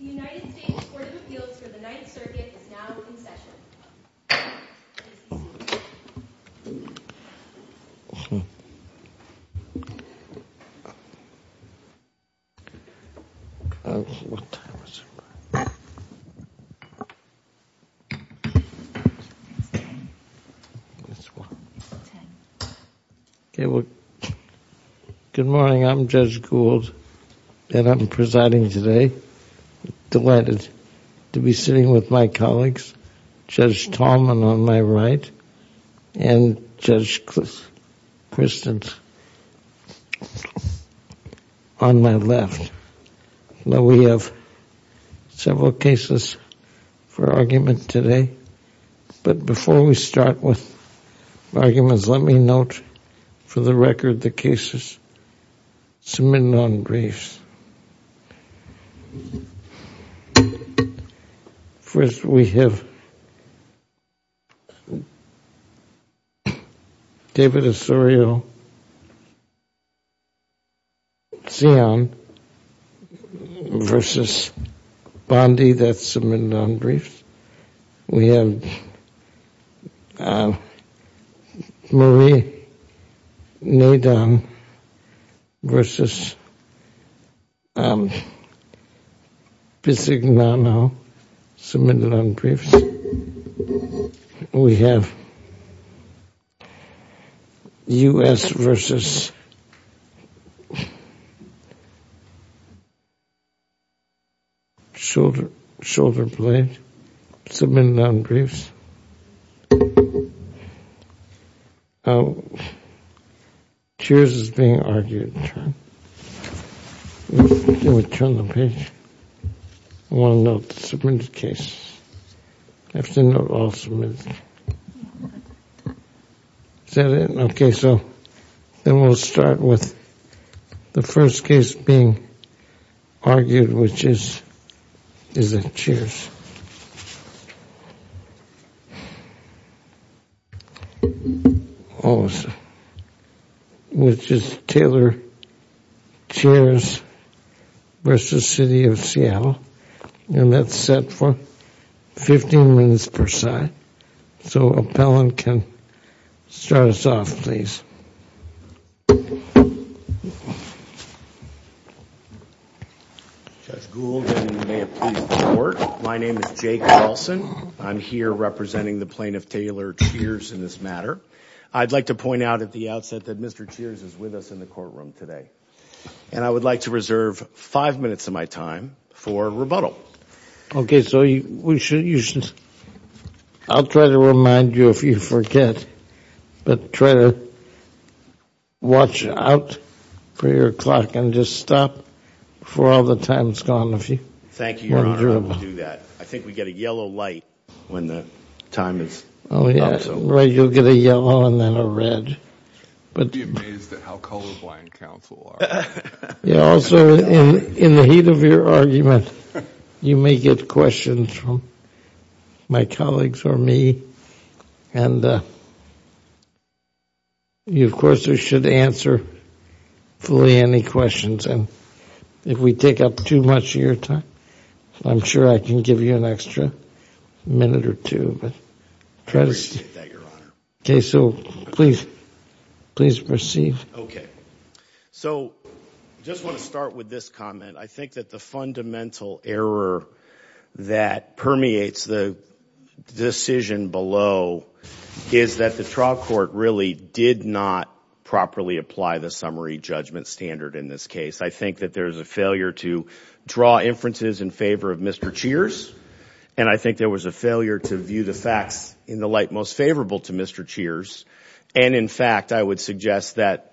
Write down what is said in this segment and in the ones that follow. The United States Court of Appeals for the Ninth Circuit is now in session. Good morning. I'm Judge Gould and I'm presiding today. Delighted to be sitting with my colleagues Judge Tallman on my right and Judge Christens on my left. Now, we have several cases for argument today, but before we start with arguments, let me note for the record the cases submitted on briefs. First, we have David Osorio-Cion v. Bondi that's submitted on briefs. We have Marie Nadon v. Pizzignano, submitted on briefs. We have U.S. v. We'll start with the first case being argued, which is Taylor Chairs v. City of Seattle, and that's set for 15 minutes per side. So, appellant can start us off, please. Judge Gould, and may it please the Court, my name is Jake Wilson. I'm here representing the plaintiff, Taylor Chairs, in this matter. I'd like to point out at the outset that Mr. Chairs is with us in the courtroom today, and I would like to reserve five minutes of my time for rebuttal. Okay. So, I'll try to remind you if you forget, but try to watch out for your clock and just stop before all the time's gone. Thank you, Your Honor. I will do that. I think we get a yellow light when the time is up. Oh, yeah. Right, you'll get a yellow and then a red. You'd be amazed at how colorblind counsel are. Also, in the heat of your argument, you may get questions from my colleagues or me, and you of course should answer fully any questions, and if we take up too much of your time, I'm sure I can give you an extra minute or two. I appreciate that, Your Honor. Okay, so please proceed. Okay. So, I just want to start with this comment. I think that the fundamental error that permeates the decision below is that the trial court really did not properly apply the summary judgment standard in this case. I think that there's a failure to draw inferences in favor of Mr. Chairs, and I think there was a failure to view the facts in the light most favorable to Mr. Chairs, and in fact, I would suggest that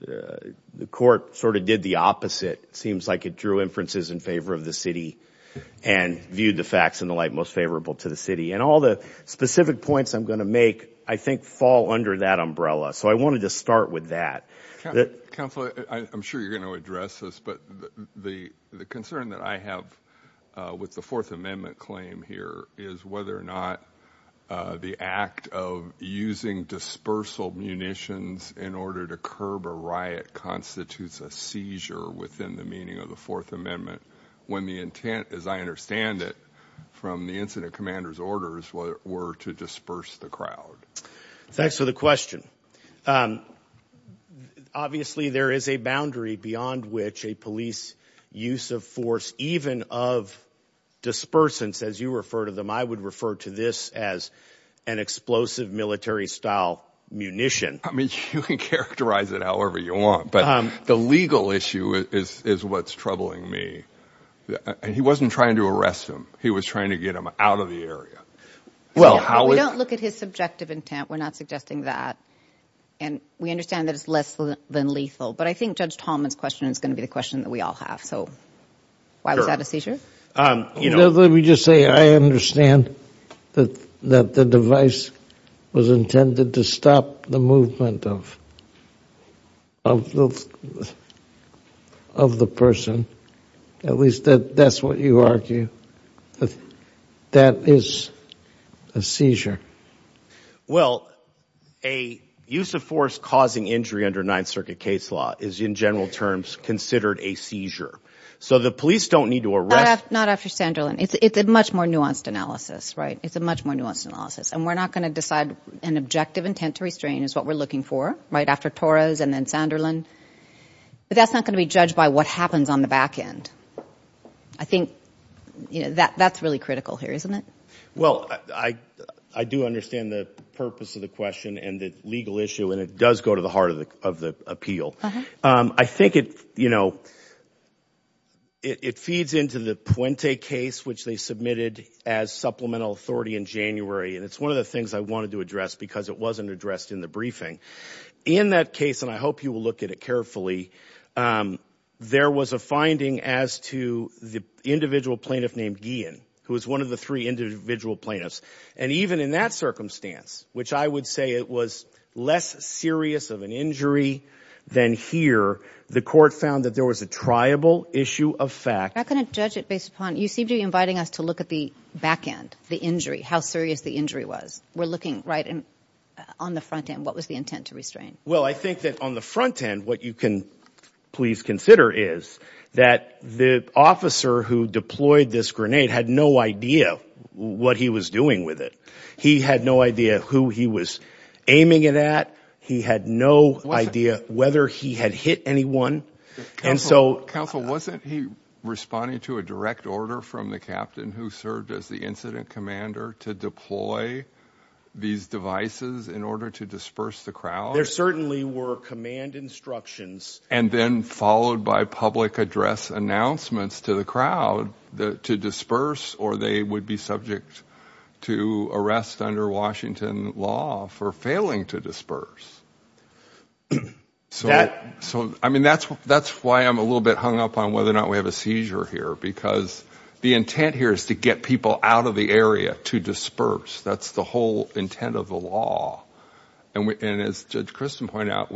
the court sort of did the opposite. It seems like it drew inferences in favor of the city and viewed the facts in the light most favorable to the city, and all the specific points I'm going to make, I think, fall under that umbrella, so I wanted to start with that. Counselor, I'm sure you're going to address this, but the concern that I have with the Fourth Amendment claim here is whether or not the act of using dispersal munitions in order to curb a riot constitutes a seizure within the meaning of the Fourth Amendment when the intent, as I understand it, from the incident commander's orders were to disperse the crowd. Thanks for the question. Obviously, there is a boundary beyond which a police use of even of dispersants, as you refer to them. I would refer to this as an explosive military style munition. I mean, you can characterize it however you want, but the legal issue is what's troubling me, and he wasn't trying to arrest him. He was trying to get him out of the area. We don't look at his subjective intent. We're not suggesting that, and we understand that it's less than lethal, but I think Judge Tallman's question is going to be the question that we all have. Sure. Why was that a seizure? Let me just say, I understand that the device was intended to stop the movement of the person. At least that's what you argue, that that is a seizure. Well, a use of force causing injury under Ninth Circuit case law is in general terms considered a seizure. So, the police don't need to arrest- Not after Sanderlin. It's a much more nuanced analysis, right? It's a much more nuanced analysis, and we're not going to decide an objective intent to restrain is what we're looking for, right, after Torres and then Sanderlin, but that's not going to be judged by what happens on the back end. I think that's really critical here, isn't it? Well, I do understand the purpose of the question and the legal issue, and it does go to the You know, it feeds into the Puente case, which they submitted as supplemental authority in January, and it's one of the things I wanted to address because it wasn't addressed in the briefing. In that case, and I hope you will look at it carefully, there was a finding as to the individual plaintiff named Guillen, who was one of the three individual plaintiffs, and even in that circumstance, which I would say it was less serious of an injury than here, the court found that there was a triable issue of fact- How can it judge it based upon... You seem to be inviting us to look at the back end, the injury, how serious the injury was. We're looking, right, on the front end, what was the intent to restrain? Well, I think that on the front end, what you can please consider is that the officer who deployed this grenade had no idea what he was doing with it. He had no idea who he was aiming it at. He had no idea whether he had hit anyone, and so- Counsel, wasn't he responding to a direct order from the captain who served as the incident commander to deploy these devices in order to disperse the crowd? There certainly were command instructions. And then followed by public address announcements to the crowd to disperse, or they would be to arrest under Washington law for failing to disperse. I mean, that's why I'm a little bit hung up on whether or not we have a seizure here, because the intent here is to get people out of the area to disperse. That's the whole intent of the law. And as Judge Christen pointed out,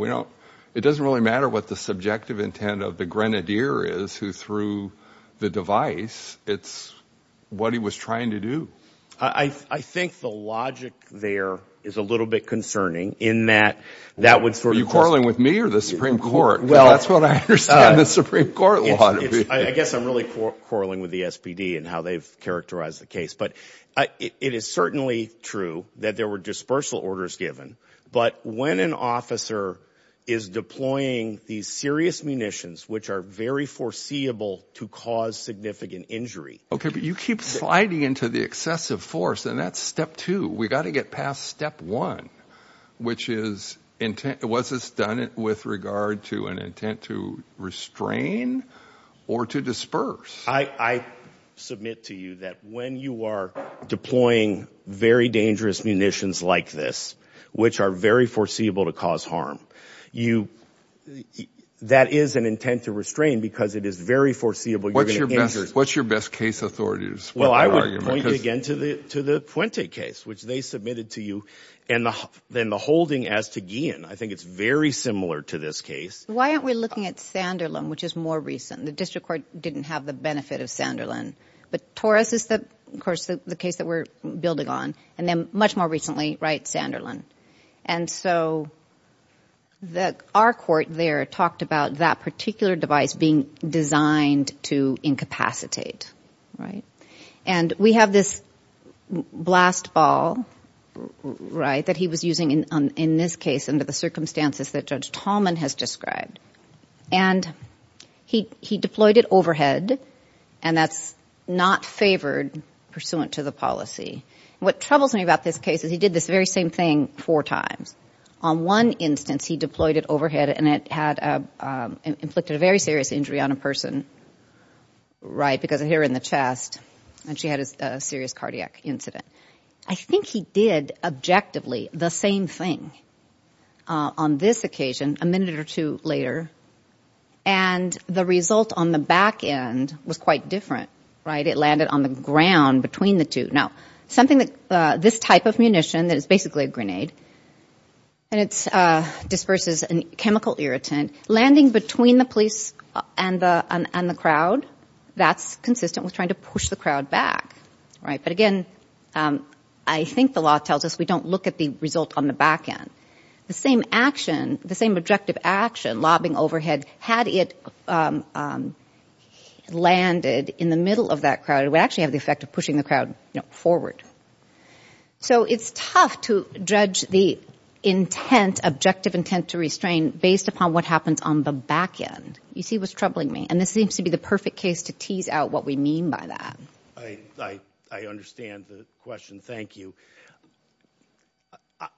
it doesn't really matter what the subjective intent of the grenadier is who threw the device. It's what he was trying to do. I think the logic there is a little bit concerning in that that would sort of- Are you quarreling with me or the Supreme Court? Because that's what I understand the Supreme Court law to be. I guess I'm really quarreling with the SPD and how they've characterized the case. But it is certainly true that there were dispersal orders given, but when an officer is deploying these serious munitions, which are very foreseeable to cause significant injury- Okay, but you keep sliding into the excessive force, and that's step two. We've got to get past step one, which is, was this done with regard to an intent to restrain or to disperse? I submit to you that when you are deploying very dangerous munitions like this, which are very foreseeable to cause harm, that is an intent to restrain because it is very foreseeable you're going to injure- What's your best case authority to support that argument? Well, I would point you again to the Puente case, which they submitted to you, and then the holding as to Guillen. I think it's very similar to this case. Why aren't we looking at Sanderlin, which is more recent? The district court didn't have the benefit of Sanderlin. But Torres is, of course, the case that we're building on, and then much more recently, Sanderlin. Our court there talked about that particular device being designed to incapacitate. We have this blast ball that he was using in this case under the circumstances that Judge Tallman has described. He deployed it overhead, and that's not favored pursuant to the policy. What troubles me about this case is he did this very same thing four times. On one instance, he deployed it overhead, and it had inflicted a very serious injury on a person, right, because of here in the chest, and she had a serious cardiac incident. I think he did, objectively, the same thing on this occasion a minute or two later, and the result on the back end was quite different, right? It landed on the ground between the two. Now, this type of munition that is basically a grenade, and it disperses a chemical irritant, landing between the police and the crowd, that's consistent with trying to push the crowd back, right? But again, I think the law tells us we don't look at the result on the back end. The same action, the same objective action, lobbing overhead, had it landed in the middle of that crowd, it would actually have the effect of pushing the crowd forward. So it's tough to judge the intent, objective intent to restrain, based upon what happens on the back end. You see what's troubling me, and this seems to be the perfect case to tease out what we mean by that. I understand the question. Thank you.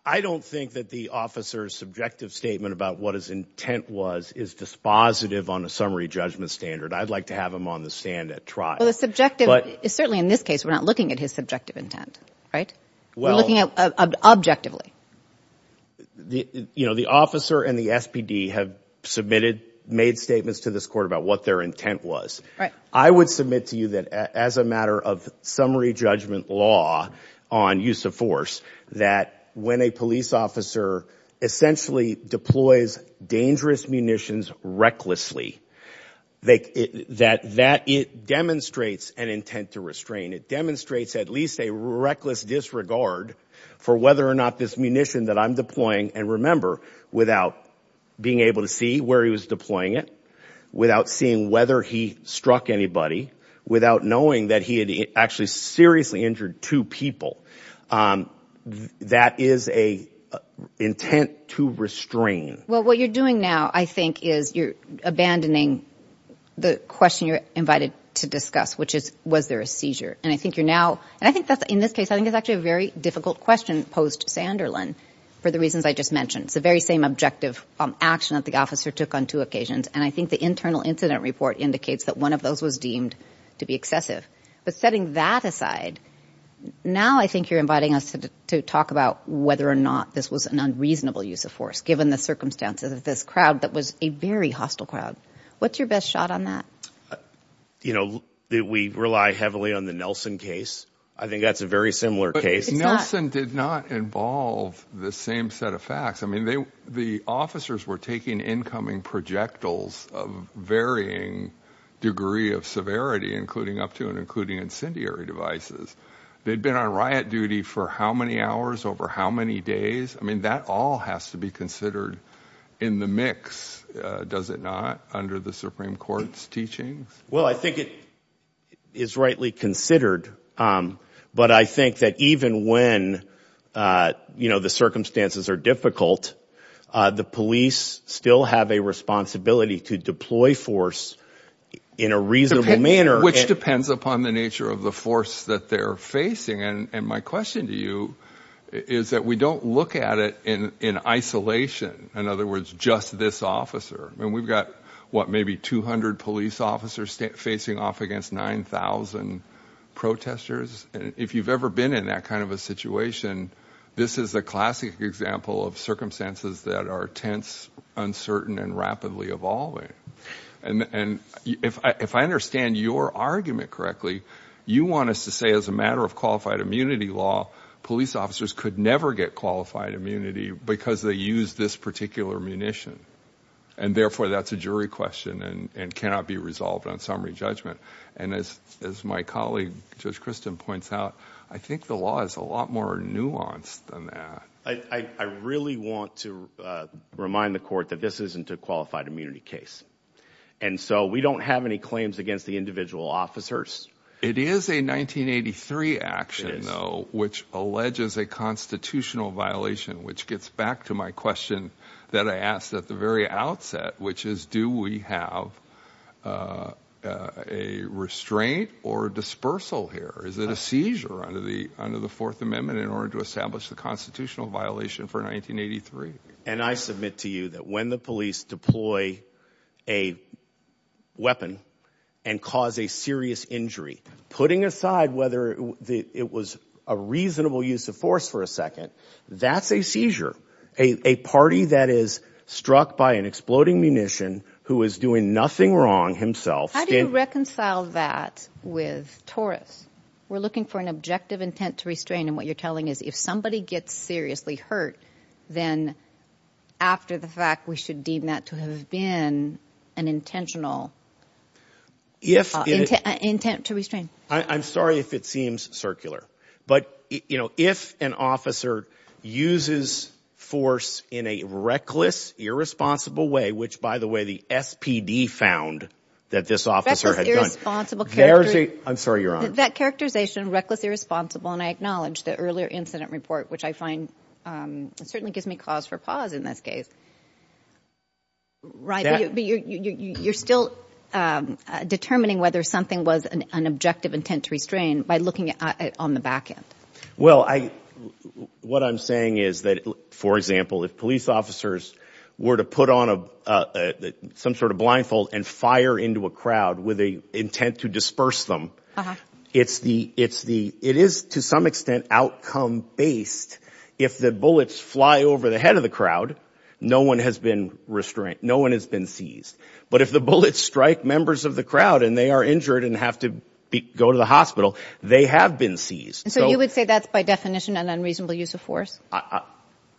I don't think that the officer's subjective statement about what his intent was is dispositive on a summary judgment standard. I'd like to have him on the stand at trial. Well, the subjective, certainly in this case, we're not looking at his subjective intent, right? We're looking at objectively. The officer and the SPD have submitted, made statements to this court about what their intent was. I would submit to you that as a matter of summary judgment law on use of force, that when a police officer essentially deploys dangerous munitions recklessly, that it demonstrates an intent to restrain. It demonstrates at least a reckless disregard for whether or not this munition that I'm deploying, and remember, without being able to see where he was deploying it, without seeing whether he struck anybody, without knowing that he had actually seriously injured two people, that is an intent to restrain. Well, what you're doing now, I think, is you're abandoning the question you're invited to discuss, which is, was there a seizure? I think you're now, and I think that's, in this case, I think it's actually a very difficult question posed to Sanderlin, for the reasons I just mentioned. It's the very same objective action that the officer took on two occasions, and I think the internal incident report indicates that one of those was deemed to be excessive. But setting that aside, now I think you're inviting us to talk about whether or not this was an unreasonable use of force, given the circumstances of this crowd that was a very hostile crowd. What's your best shot on that? You know, we rely heavily on the Nelson case. I think that's a very similar case. Because Nelson did not involve the same set of facts. I mean, the officers were taking incoming projectiles of varying degree of severity, including up to and including incendiary devices. They'd been on riot duty for how many hours over how many days? I mean, that all has to be considered in the mix, does it not, under the Supreme Court's teachings? Well, I think it is rightly considered. But I think that even when, you know, the circumstances are difficult, the police still have a responsibility to deploy force in a reasonable manner. Which depends upon the nature of the force that they're facing. And my question to you is that we don't look at it in isolation. In other words, just this officer. I mean, we've got, what, maybe 200 police officers facing off against 9,000 protesters. If you've ever been in that kind of a situation, this is a classic example of circumstances that are tense, uncertain, and rapidly evolving. And if I understand your argument correctly, you want us to say as a matter of qualified immunity law, police officers could never get qualified immunity because they use this particular munition. And therefore, that's a jury question and cannot be resolved on summary judgment. And as my colleague, Judge Christin, points out, I think the law is a lot more nuanced than that. I really want to remind the court that this isn't a qualified immunity case. And so we don't have any claims against the individual officers. It is a 1983 action, though, which alleges a constitutional violation, which gets back to my question that I asked at the very outset, which is, do we have a restraint or dispersal here? Is it a seizure under the Fourth Amendment in order to establish the constitutional violation for 1983? And I submit to you that when the police deploy a weapon and cause a serious injury, putting aside whether it was a reasonable use of force for a second, that's a seizure. A party that is struck by an exploding munition, who is doing nothing wrong himself. How do you reconcile that with TORUS? We're looking for an objective intent to restrain. And what you're telling is, if somebody gets seriously hurt, then after the fact, we should deem that to have been an intentional intent to restrain. I'm sorry if it seems circular. But if an officer uses force in a reckless, irresponsible way, which, by the way, the SPD found that this officer had done, I'm sorry, Your Honor. That characterization, reckless, irresponsible, and I acknowledge the earlier incident report, which I find certainly gives me cause for pause in this case, but you're still determining whether something was an objective intent to restrain by looking at it on the back end. What I'm saying is that, for example, if police officers were to put on some sort of blindfold and fire into a crowd with the intent to disperse them, it is to some extent outcome-based. If the bullets fly over the head of the crowd, no one has been seized. But if the bullets strike members of the crowd and they are injured and have to go to the hospital, they have been seized. So you would say that's by definition an unreasonable use of force?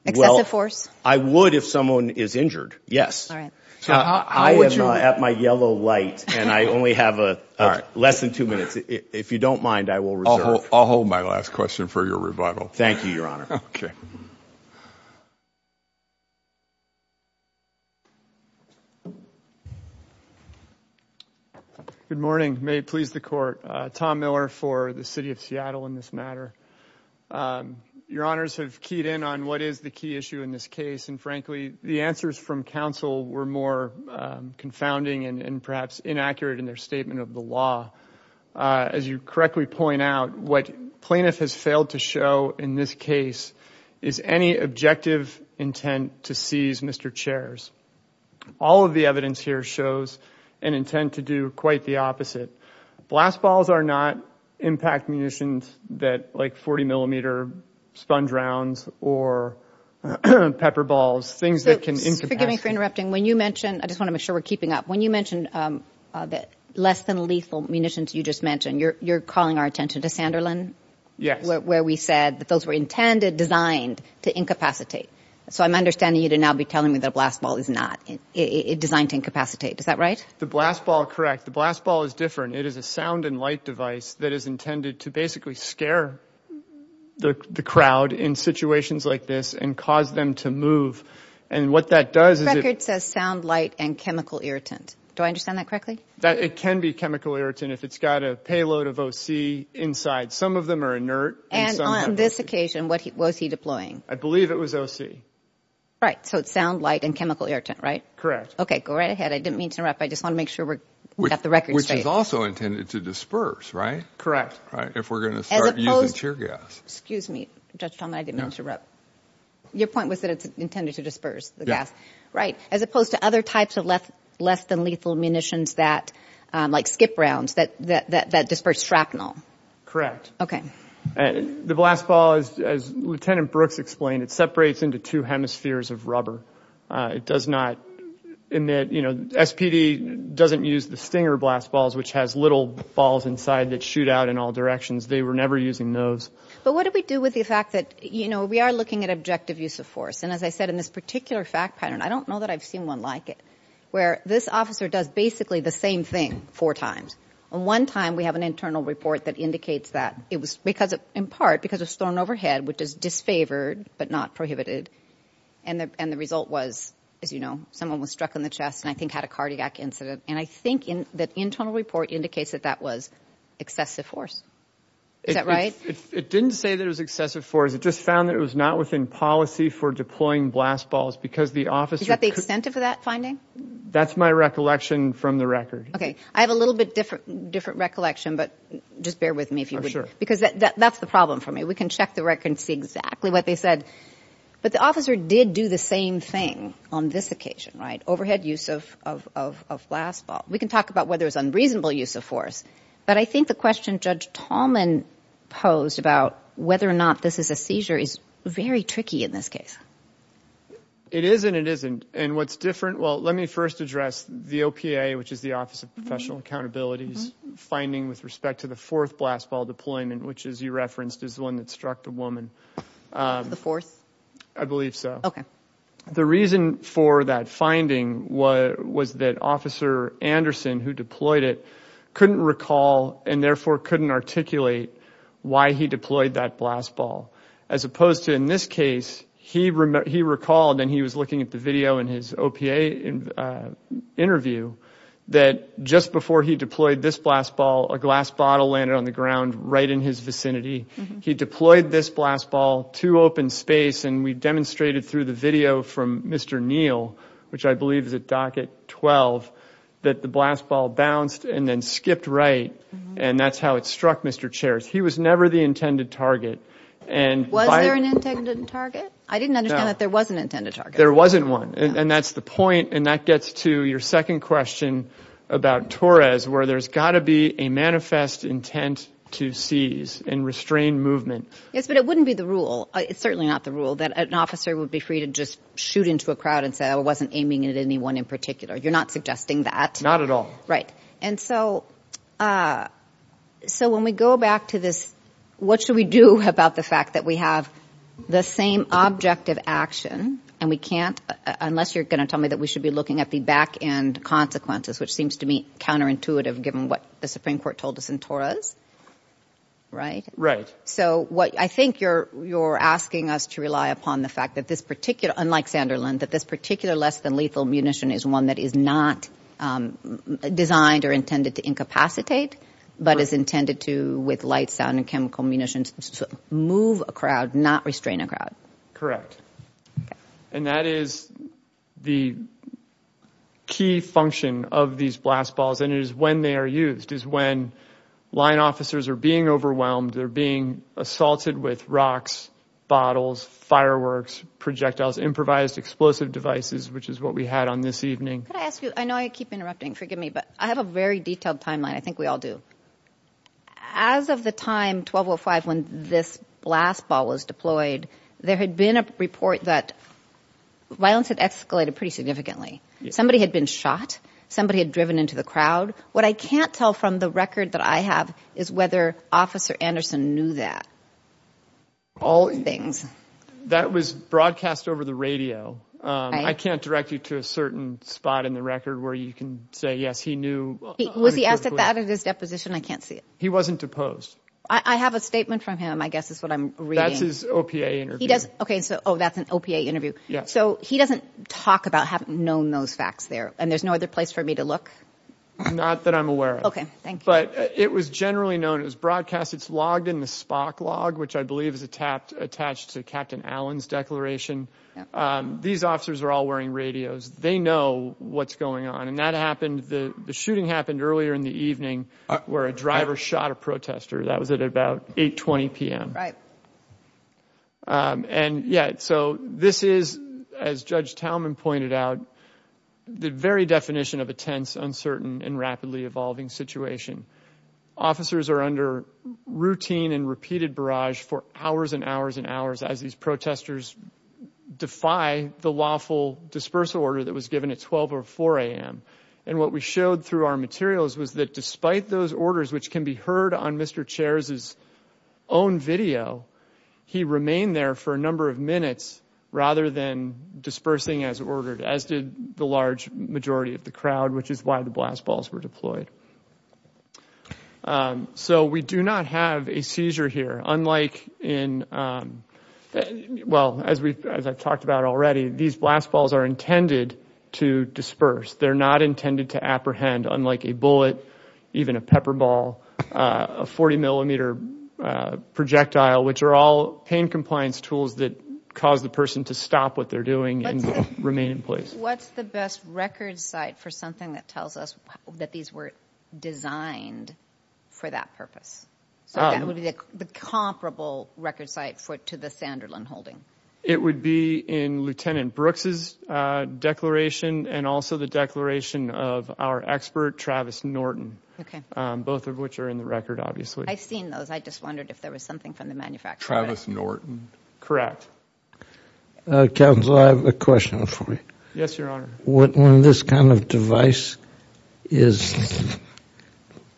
Excessive force? I would if someone is injured, yes. I am at my yellow light, and I only have less than two minutes. If you don't mind, I will reserve. I'll hold my last question for your rebuttal. Thank you, Your Honor. Good morning. May it please the Court. Tom Miller for the City of Seattle in this matter. Your Honors have keyed in on what is the key issue in this case, and frankly, the answers from counsel were more confounding and perhaps inaccurate in their statement of the law. As you correctly point out, what plaintiff has failed to show in this case is any objective intent to seize Mr. Chair's. All of the evidence here shows an intent to do quite the opposite. Blast balls are not impact munitions like 40mm sponge rounds or pepper balls, things that can incapacitate. Forgive me for interrupting. I just want to make sure we are keeping up. When you mentioned less than lethal munitions you just mentioned, you are calling our attention to Sanderlin, where we said that those were intended, designed to incapacitate. So I am understanding you to now be telling me that a blast ball is not designed to incapacitate. Is that right? The blast ball, correct. The blast ball is different. It is a sound and light device that is intended to basically scare the crowd in situations like this and cause them to move. And what that does is it... The record says sound, light, and chemical irritant. Do I understand that correctly? It can be chemical irritant if it's got a payload of OC inside. Some of them are inert. And on this occasion, what was he deploying? I believe it was OC. Right. So it's sound, light, and chemical irritant, right? Correct. Okay. Go right ahead. I didn't mean to interrupt. I just want to make sure we got the record straight. Which is also intended to disperse, right? Correct. Right. If we are going to start using tear gas. Excuse me, Judge Talmadge. I didn't mean to interrupt. Your point was that it's intended to disperse the gas. Right. As opposed to other types of less than lethal munitions that like skip rounds, that disperse shrapnel. Correct. The blast ball, as Lieutenant Brooks explained, it separates into two hemispheres of rubber. It does not emit, you know, SPD doesn't use the stinger blast balls, which has little balls inside that shoot out in all directions. They were never using those. But what do we do with the fact that, you know, we are looking at objective use of force? And as I said, in this particular fact pattern, I don't know that I've seen one like it, where this officer does basically the same thing four times. And one time, we have an internal report that indicates that it was because of, in part, because it was thrown overhead, which is disfavored, but not prohibited. And the result was, as you know, someone was struck in the chest and I think had a cardiac incident. And I think that internal report indicates that that was excessive force. Is that right? It didn't say that it was excessive force. It just found that it was not within policy for deploying blast balls because the officer... Is that the extent of that finding? That's my recollection from the record. Okay. I have a little bit different recollection, but just bear with me if you would. Because that's the problem for me. We can check the record and see exactly what they said. But the officer did do the same thing on this occasion, right? Overhead use of blast ball. We can talk about whether it was unreasonable use of force, but I think the question Judge Tallman posed about whether or not this is a seizure is very tricky in this case. It is and it isn't. And what's different? Well, let me first address the OPA, which is the Office of Professional Accountability's finding with respect to the fourth blast ball deployment, which as you referenced is the one that struck the woman. The fourth? I believe so. Okay. The reason for that finding was that Officer Anderson, who deployed it, couldn't recall and therefore couldn't articulate why he deployed that blast ball. As opposed to in this case, he recalled and he was looking at the video in his OPA interview that just before he deployed this blast ball, a glass bottle landed on the ground right in his vicinity. He deployed this blast ball to open space and we demonstrated through the video from Mr. Neal, which I believe is at docket 12, that the blast ball bounced and then skipped right and that's how it struck Mr. Chares. He was never the intended target. Was there an intended target? I didn't understand that there was an intended target. There wasn't one. And that's the point and that gets to your second question about Torres where there's got to be a manifest intent to seize and restrain movement. Yes, but it wouldn't be the rule. It's certainly not the rule that an officer would be free to just shoot into a crowd and say, I wasn't aiming at anyone in particular. You're not suggesting that? Not at all. Right. So when we go back to this, what should we do about the fact that we have the same objective action and we can't, unless you're going to tell me that we should be looking at the back end consequences, which seems to me counterintuitive given what the Supreme Court told us in Torres, right? Right. So what I think you're, you're asking us to rely upon the fact that this particular, unlike Sanderlund, that this particular less than lethal munition is one that is not designed or intended to incapacitate, but is intended to, with light, sound and chemical munitions, move a crowd, not restrain a crowd. Correct. And that is the key function of these blast balls. And it is when they are used is when line officers are being overwhelmed. They're being assaulted with rocks, bottles, fireworks, projectiles, improvised explosive devices, which is what we had on this evening. Could I ask you, I know I keep interrupting, forgive me, but I have a very detailed timeline. I think we all do. As of the time 1205, when this blast ball was deployed, there had been a report that violence had escalated pretty significantly. Somebody had been shot. Somebody had driven into the crowd. What I can't tell from the record that I have is whether Officer Anderson knew that. All things. That was broadcast over the radio. I can't direct you to a certain spot in the record where you can say, yes, he knew. Was he asked at that at his deposition? I can't see it. He wasn't deposed. I have a statement from him, I guess is what I'm reading. That's his OPA interview. He doesn't. OK, so that's an OPA interview. So he doesn't talk about having known those facts there. And there's no other place for me to look. Not that I'm aware of. OK, thank you. But it was generally known as broadcast. It's logged in the Spock log, which I believe is attached to Captain Allen's declaration. These officers are all wearing radios. They know what's going on. And that happened. The shooting happened earlier in the evening where a driver shot a protester. That was at about 8.20 p.m. And yet so this is, as Judge Talman pointed out, the very definition of a tense, uncertain and rapidly evolving situation. Officers are under routine and repeated barrage for hours and hours and hours as these protesters defy the lawful dispersal order that was given at 12 or 4 a.m. And what we showed through our materials was that despite those orders, which can be heard on Mr. Chair's own video, he remained there for a number of minutes rather than dispersing as ordered, as did the large majority of the crowd, which is why the blast balls were deployed. So we do not have a seizure here, unlike in, well, as I've talked about already, these blast balls are intended to disperse. They're not intended to apprehend, unlike a bullet, even a pepper ball, a 40 millimeter projectile, which are all pain compliance tools that cause the person to stop what they're doing and remain in place. What's the best record site for something that tells us that these were designed for that purpose? So that would be the comparable record site to the Sanderlund holding? It would be in Lieutenant Brooks's declaration and also the declaration of our expert, Travis Norton, both of which are in the record, obviously. I've seen those. I just wondered if there was something from the manufacturer. Travis Norton. Correct. Counsel, I have a question for you. Yes, Your Honor. What, when this kind of device is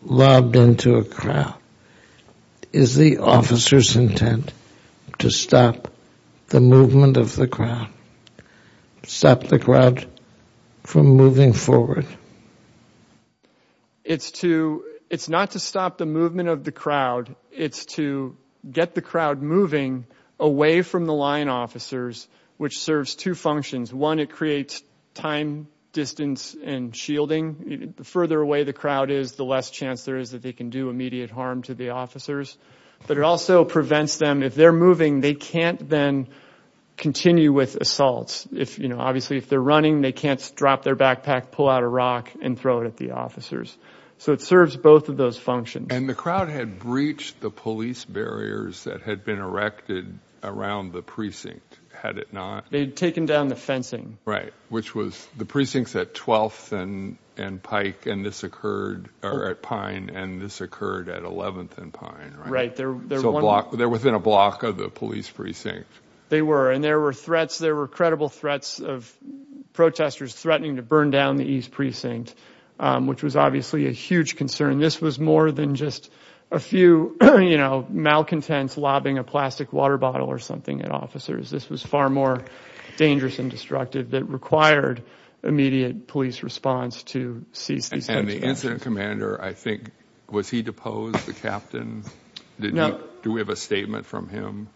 lobbed into a crowd, is the officer's intent to stop the movement of the crowd, stop the crowd from moving forward? It's to, it's not to stop the movement of the crowd. It's to get the crowd moving away from the line officers, which serves two functions. One, it creates time distance and shielding. The further away the crowd is, the less chance there is that they can do immediate harm to the officers. But it also prevents them, if they're moving, they can't then continue with assaults. If, you know, obviously if they're running, they can't drop their backpack, pull out a rock and throw it at the officers. So it serves both of those functions. And the crowd had breached the police barriers that had been erected around the precinct, had it not? They'd taken down the fencing. Right. Which was, the precinct's at 12th and Pike, and this occurred, or at Pine, and this occurred at 11th and Pine, right? Right. So a block, they're within a block of the police precinct. They were. And there were threats, there were credible threats of protesters threatening to burn down the East Precinct, which was obviously a huge concern. This was more than just a few, you know, malcontents lobbing a plastic water bottle or something at officers. This was far more dangerous and destructive that required immediate police response to cease these kinds of attacks. And the incident commander, I think, was he deposed, the captain? No. Do we have a statement from him?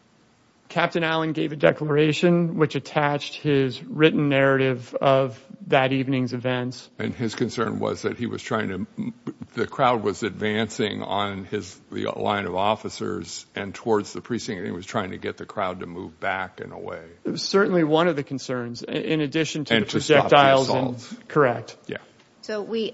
Captain Allen gave a declaration which attached his written narrative of that evening's events. And his concern was that he was trying to, the crowd was advancing on his, the line of officers and towards the precinct, and he was trying to get the crowd to move back and away. It was certainly one of the concerns, in addition to the projectiles, correct. Yeah. So we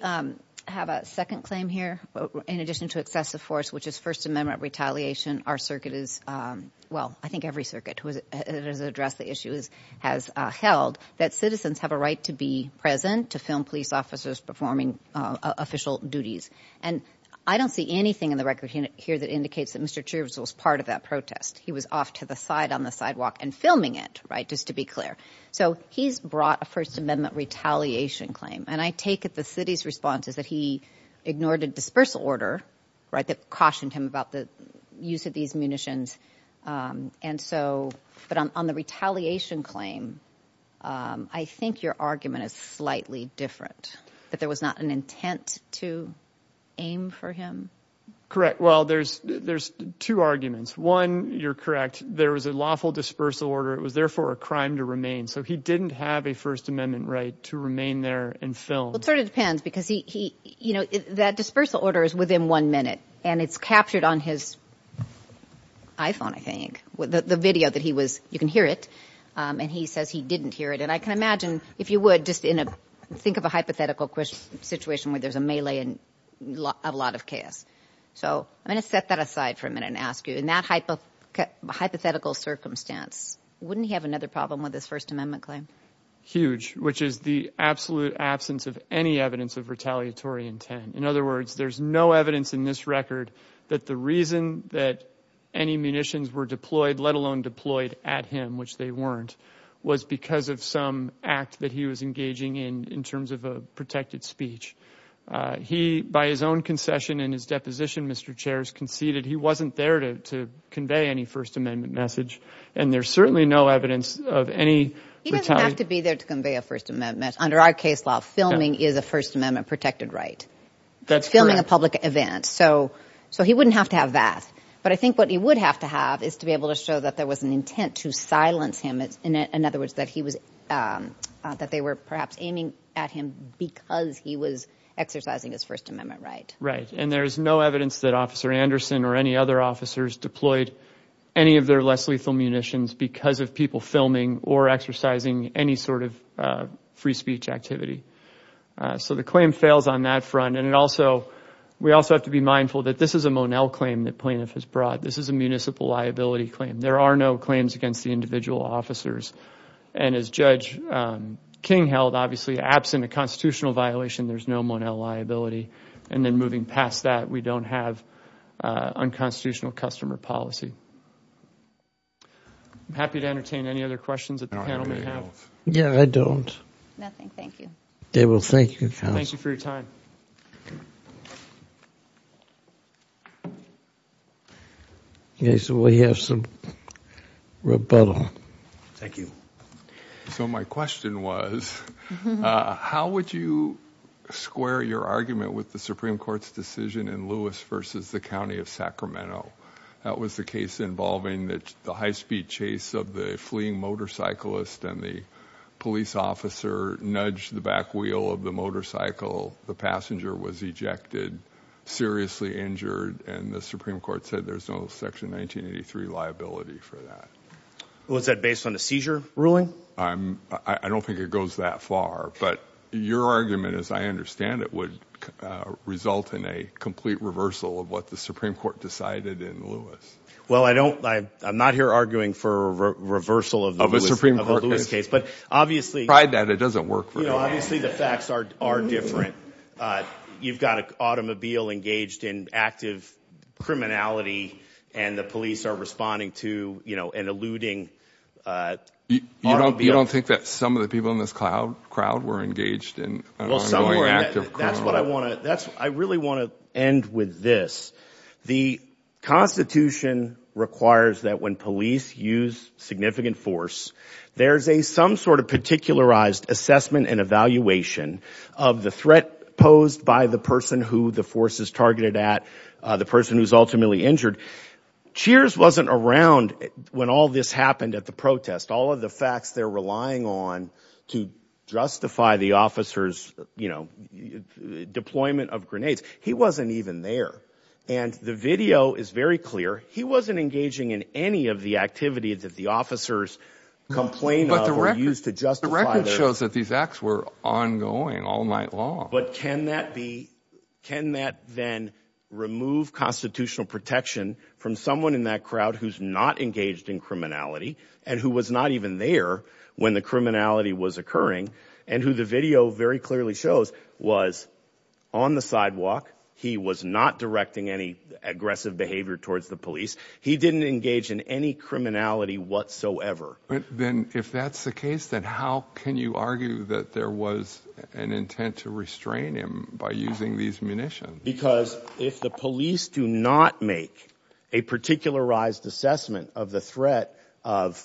have a second claim here, in addition to excessive force, which is First Amendment retaliation. Our circuit is, well, I think every circuit has addressed the issues, has held that citizens have a right to be present, to film police officers performing official duties. And I don't see anything in the record here that indicates that Mr. Churchill was part of that protest. He was off to the side on the sidewalk and filming it, right, just to be clear. So he's brought a First Amendment retaliation claim. And I take it the city's response is that he ignored a dispersal order, right, that cautioned him about the use of these munitions. And so, but on the retaliation claim, I think your argument is slightly different, that there was not an intent to aim for him? Correct. Well, there's two arguments. One, you're correct, there was a lawful dispersal order. It was therefore a crime to remain. So he didn't have a First Amendment right to remain there and film. Well, it sort of depends, because he, you know, that dispersal order is within one minute, and it's captured on his iPhone, I think, the video that he was, you can hear it, and he says he didn't hear it. And I can imagine, if you would, just in a, think of a hypothetical situation where there's a melee and a lot of chaos. So I'm going to set that aside for a minute and ask you, in that hypothetical circumstance, wouldn't he have another problem with his First Amendment claim? Huge, which is the absolute absence of any evidence of retaliatory intent. In other words, there's no evidence in this record that the reason that any munitions were deployed, let alone deployed at him, which they weren't, was because of some act that he was engaging in, in terms of a protected speech. He, by his own concession and his deposition, Mr. Chair, has conceded he wasn't there to convey any First Amendment message, and there's certainly no evidence of any retaliation. He doesn't have to be there to convey a First Amendment message. Under our case law, filming is a First Amendment protected right. That's correct. Filming a public event. So, so he wouldn't have to have that. But I think what he would have to have is to be able to show that there was an intent to silence him. In other words, that he was, that they were perhaps aiming at him because he was exercising his First Amendment right. Right. And there's no evidence that Officer Anderson or any other officers deployed any of their less lethal munitions because of people filming or exercising any sort of free speech activity. So the claim fails on that front, and it also, we also have to be mindful that this is a Monell claim that plaintiff has brought. This is a municipal liability claim. There are no claims against the individual officers. And as Judge King held, obviously, absent a constitutional violation, there's no Monell liability. And then moving past that, we don't have unconstitutional customer policy. I'm happy to entertain any other questions that the panel may have. Yeah, I don't. Nothing. Thank you. They will thank you, Counsel. Thank you for your time. Okay. So we have some rebuttal. Thank you. So my question was, how would you square your argument with the Supreme Court's decision in Lewis versus the County of Sacramento? That was the case involving the high-speed chase of the fleeing motorcyclist and the police officer nudged the back wheel of the motorcycle. The passenger was ejected, seriously injured, and the Supreme Court said there's no Section 1983 liability for that. Was that based on the seizure ruling? I don't think it goes that far. But your argument, as I understand it, would result in a complete reversal of what the Supreme Court decided in Lewis. Well, I'm not here arguing for a reversal of a Lewis case. But obviously— Pride that. It doesn't work for me. Obviously, the facts are different. You've got an automobile engaged in active criminality, and the police are responding to, you know, an eluding automobile. You don't think that some of the people in this crowd were engaged in an ongoing act of crime? Well, some were. That's what I want to—I really want to end with this. The Constitution requires that when police use significant force, there's some sort of particularized assessment and evaluation of the threat posed by the person who the force is targeted at, the person who's ultimately injured. Cheers wasn't around when all this happened at the protest. All of the facts they're relying on to justify the officer's, you know, deployment of grenades, he wasn't even there. And the video is very clear. He wasn't engaging in any of the activities that the officers complain of or use to justify their— But the record shows that these acts were ongoing all night long. But can that be—can that then remove constitutional protection from someone in that crowd who's not engaged in criminality, and who was not even there when the criminality was occurring, and who the video very clearly shows was on the sidewalk. He was not directing any aggressive behavior towards the police. He didn't engage in any criminality whatsoever. But then if that's the case, then how can you argue that there was an intent to restrain him by using these munitions? Because if the police do not make a particularized assessment of the threat of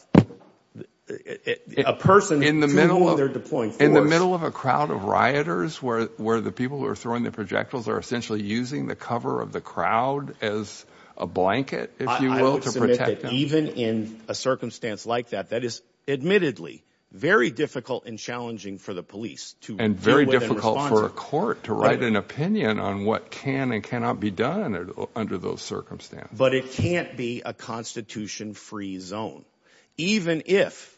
a person— In the middle of a crowd of rioters, where the people who are throwing the projectiles are essentially using the cover of the crowd as a blanket, if you will, to protect them. Even in a circumstance like that, that is admittedly very difficult and challenging for the police to deal with and respond to. And very difficult for a court to write an opinion on what can and cannot be done under those circumstances. But it can't be a constitution-free zone. Even if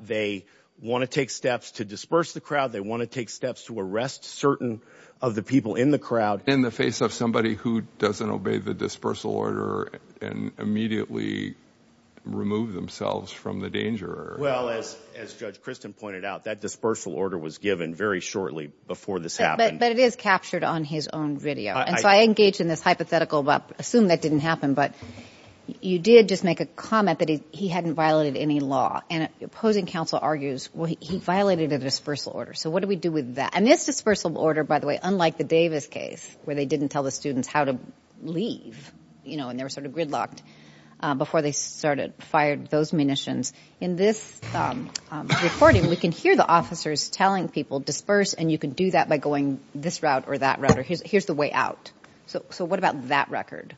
they want to take steps to disperse the crowd, they want to take steps to arrest certain of the people in the crowd— In the face of somebody who doesn't obey the dispersal order and immediately remove themselves from the danger. Well, as Judge Christin pointed out, that dispersal order was given very shortly before this happened. But it is captured on his own video. And so I engage in this hypothetical about—assume that didn't happen, but you did just make a comment that he hadn't violated any law. And opposing counsel argues, well, he violated a dispersal order. So what do we do with that? And this dispersal order, by the way, unlike the Davis case, where they didn't tell the students how to leave, you know, and they were sort of gridlocked before they started firing those munitions. In this recording, we can hear the officers telling people, disperse, and you can do that by going this route or that route, or here's the way out. So what about that record?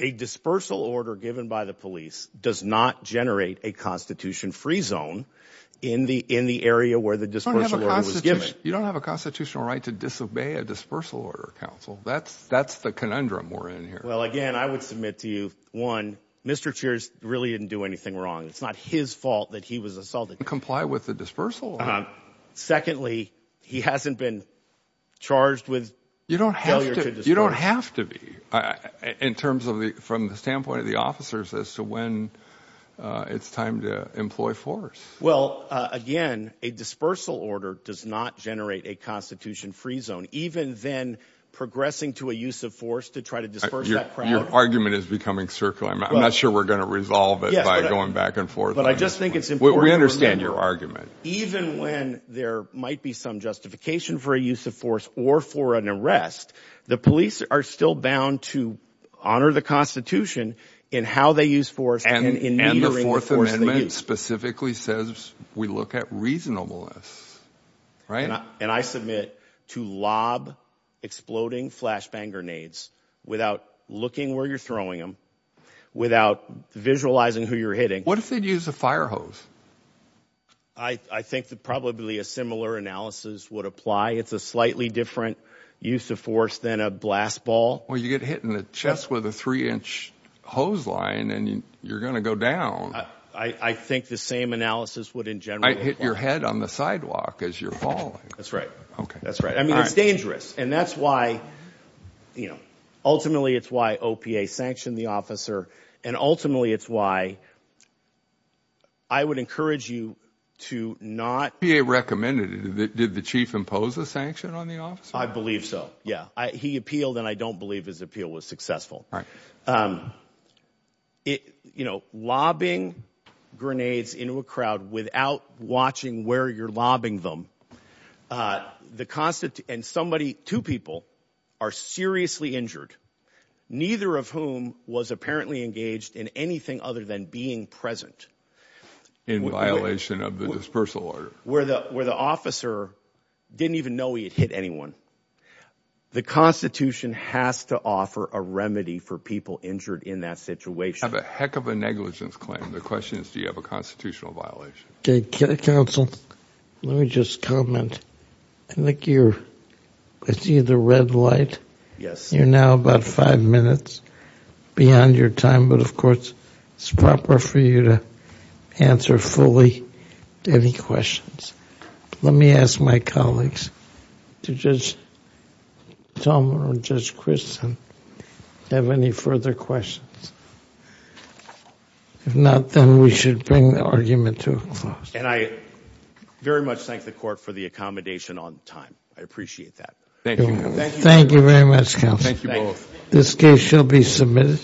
A dispersal order given by the police does not generate a constitution-free zone in the area where the dispersal order was given. You don't have a constitutional right to disobey a dispersal order, counsel. That's the conundrum we're in here. Well, again, I would submit to you, one, Mr. Cheers really didn't do anything wrong. It's not his fault that he was assaulted. Comply with the dispersal order. Secondly, he hasn't been charged with failure to disperse. You don't have to be, in terms of the—from the standpoint of the officers, as to when it's time to employ force. Well, again, a dispersal order does not generate a constitution-free zone. Even then, progressing to a use of force to try to disperse that crowd— Your argument is becoming circular. I'm not sure we're going to resolve it by going back and forth on this one. But I just think it's important to remember— We understand your argument. Even when there might be some justification for a use of force or for an arrest, the police are still bound to honor the Constitution in how they use force and in metering the force they use. It specifically says we look at reasonableness, right? And I submit to lob exploding flashbang grenades without looking where you're throwing them, without visualizing who you're hitting— What if they'd use a fire hose? I think that probably a similar analysis would apply. It's a slightly different use of force than a blast ball. Well, you get hit in the chest with a three-inch hose line, and you're going to go down. I think the same analysis would, in general— I'd hit your head on the sidewalk as you're falling. That's right. That's right. I mean, it's dangerous. And that's why—ultimately, it's why OPA sanctioned the officer. And ultimately, it's why I would encourage you to not— OPA recommended it. Did the chief impose a sanction on the officer? I believe so. Yeah. He appealed, and I don't believe his appeal was successful. Right. You know, lobbing grenades into a crowd without watching where you're lobbing them, and somebody—two people—are seriously injured, neither of whom was apparently engaged in anything other than being present. In violation of the dispersal order. Where the officer didn't even know he had hit anyone. The Constitution has to offer a remedy for people injured in that situation. You have a heck of a negligence claim. The question is, do you have a constitutional violation? Okay. Counsel, let me just comment. I think you're—I see the red light. Yes. You're now about five minutes beyond your time, but, of course, it's proper for you to answer fully to any questions. Let me ask my colleagues, Judge Tom or Judge Kristen, if they have any further questions. If not, then we should bring the argument to a close. And I very much thank the court for the accommodation on time. I appreciate that. Thank you. Thank you very much, counsel. Thank you both. This case shall be submitted.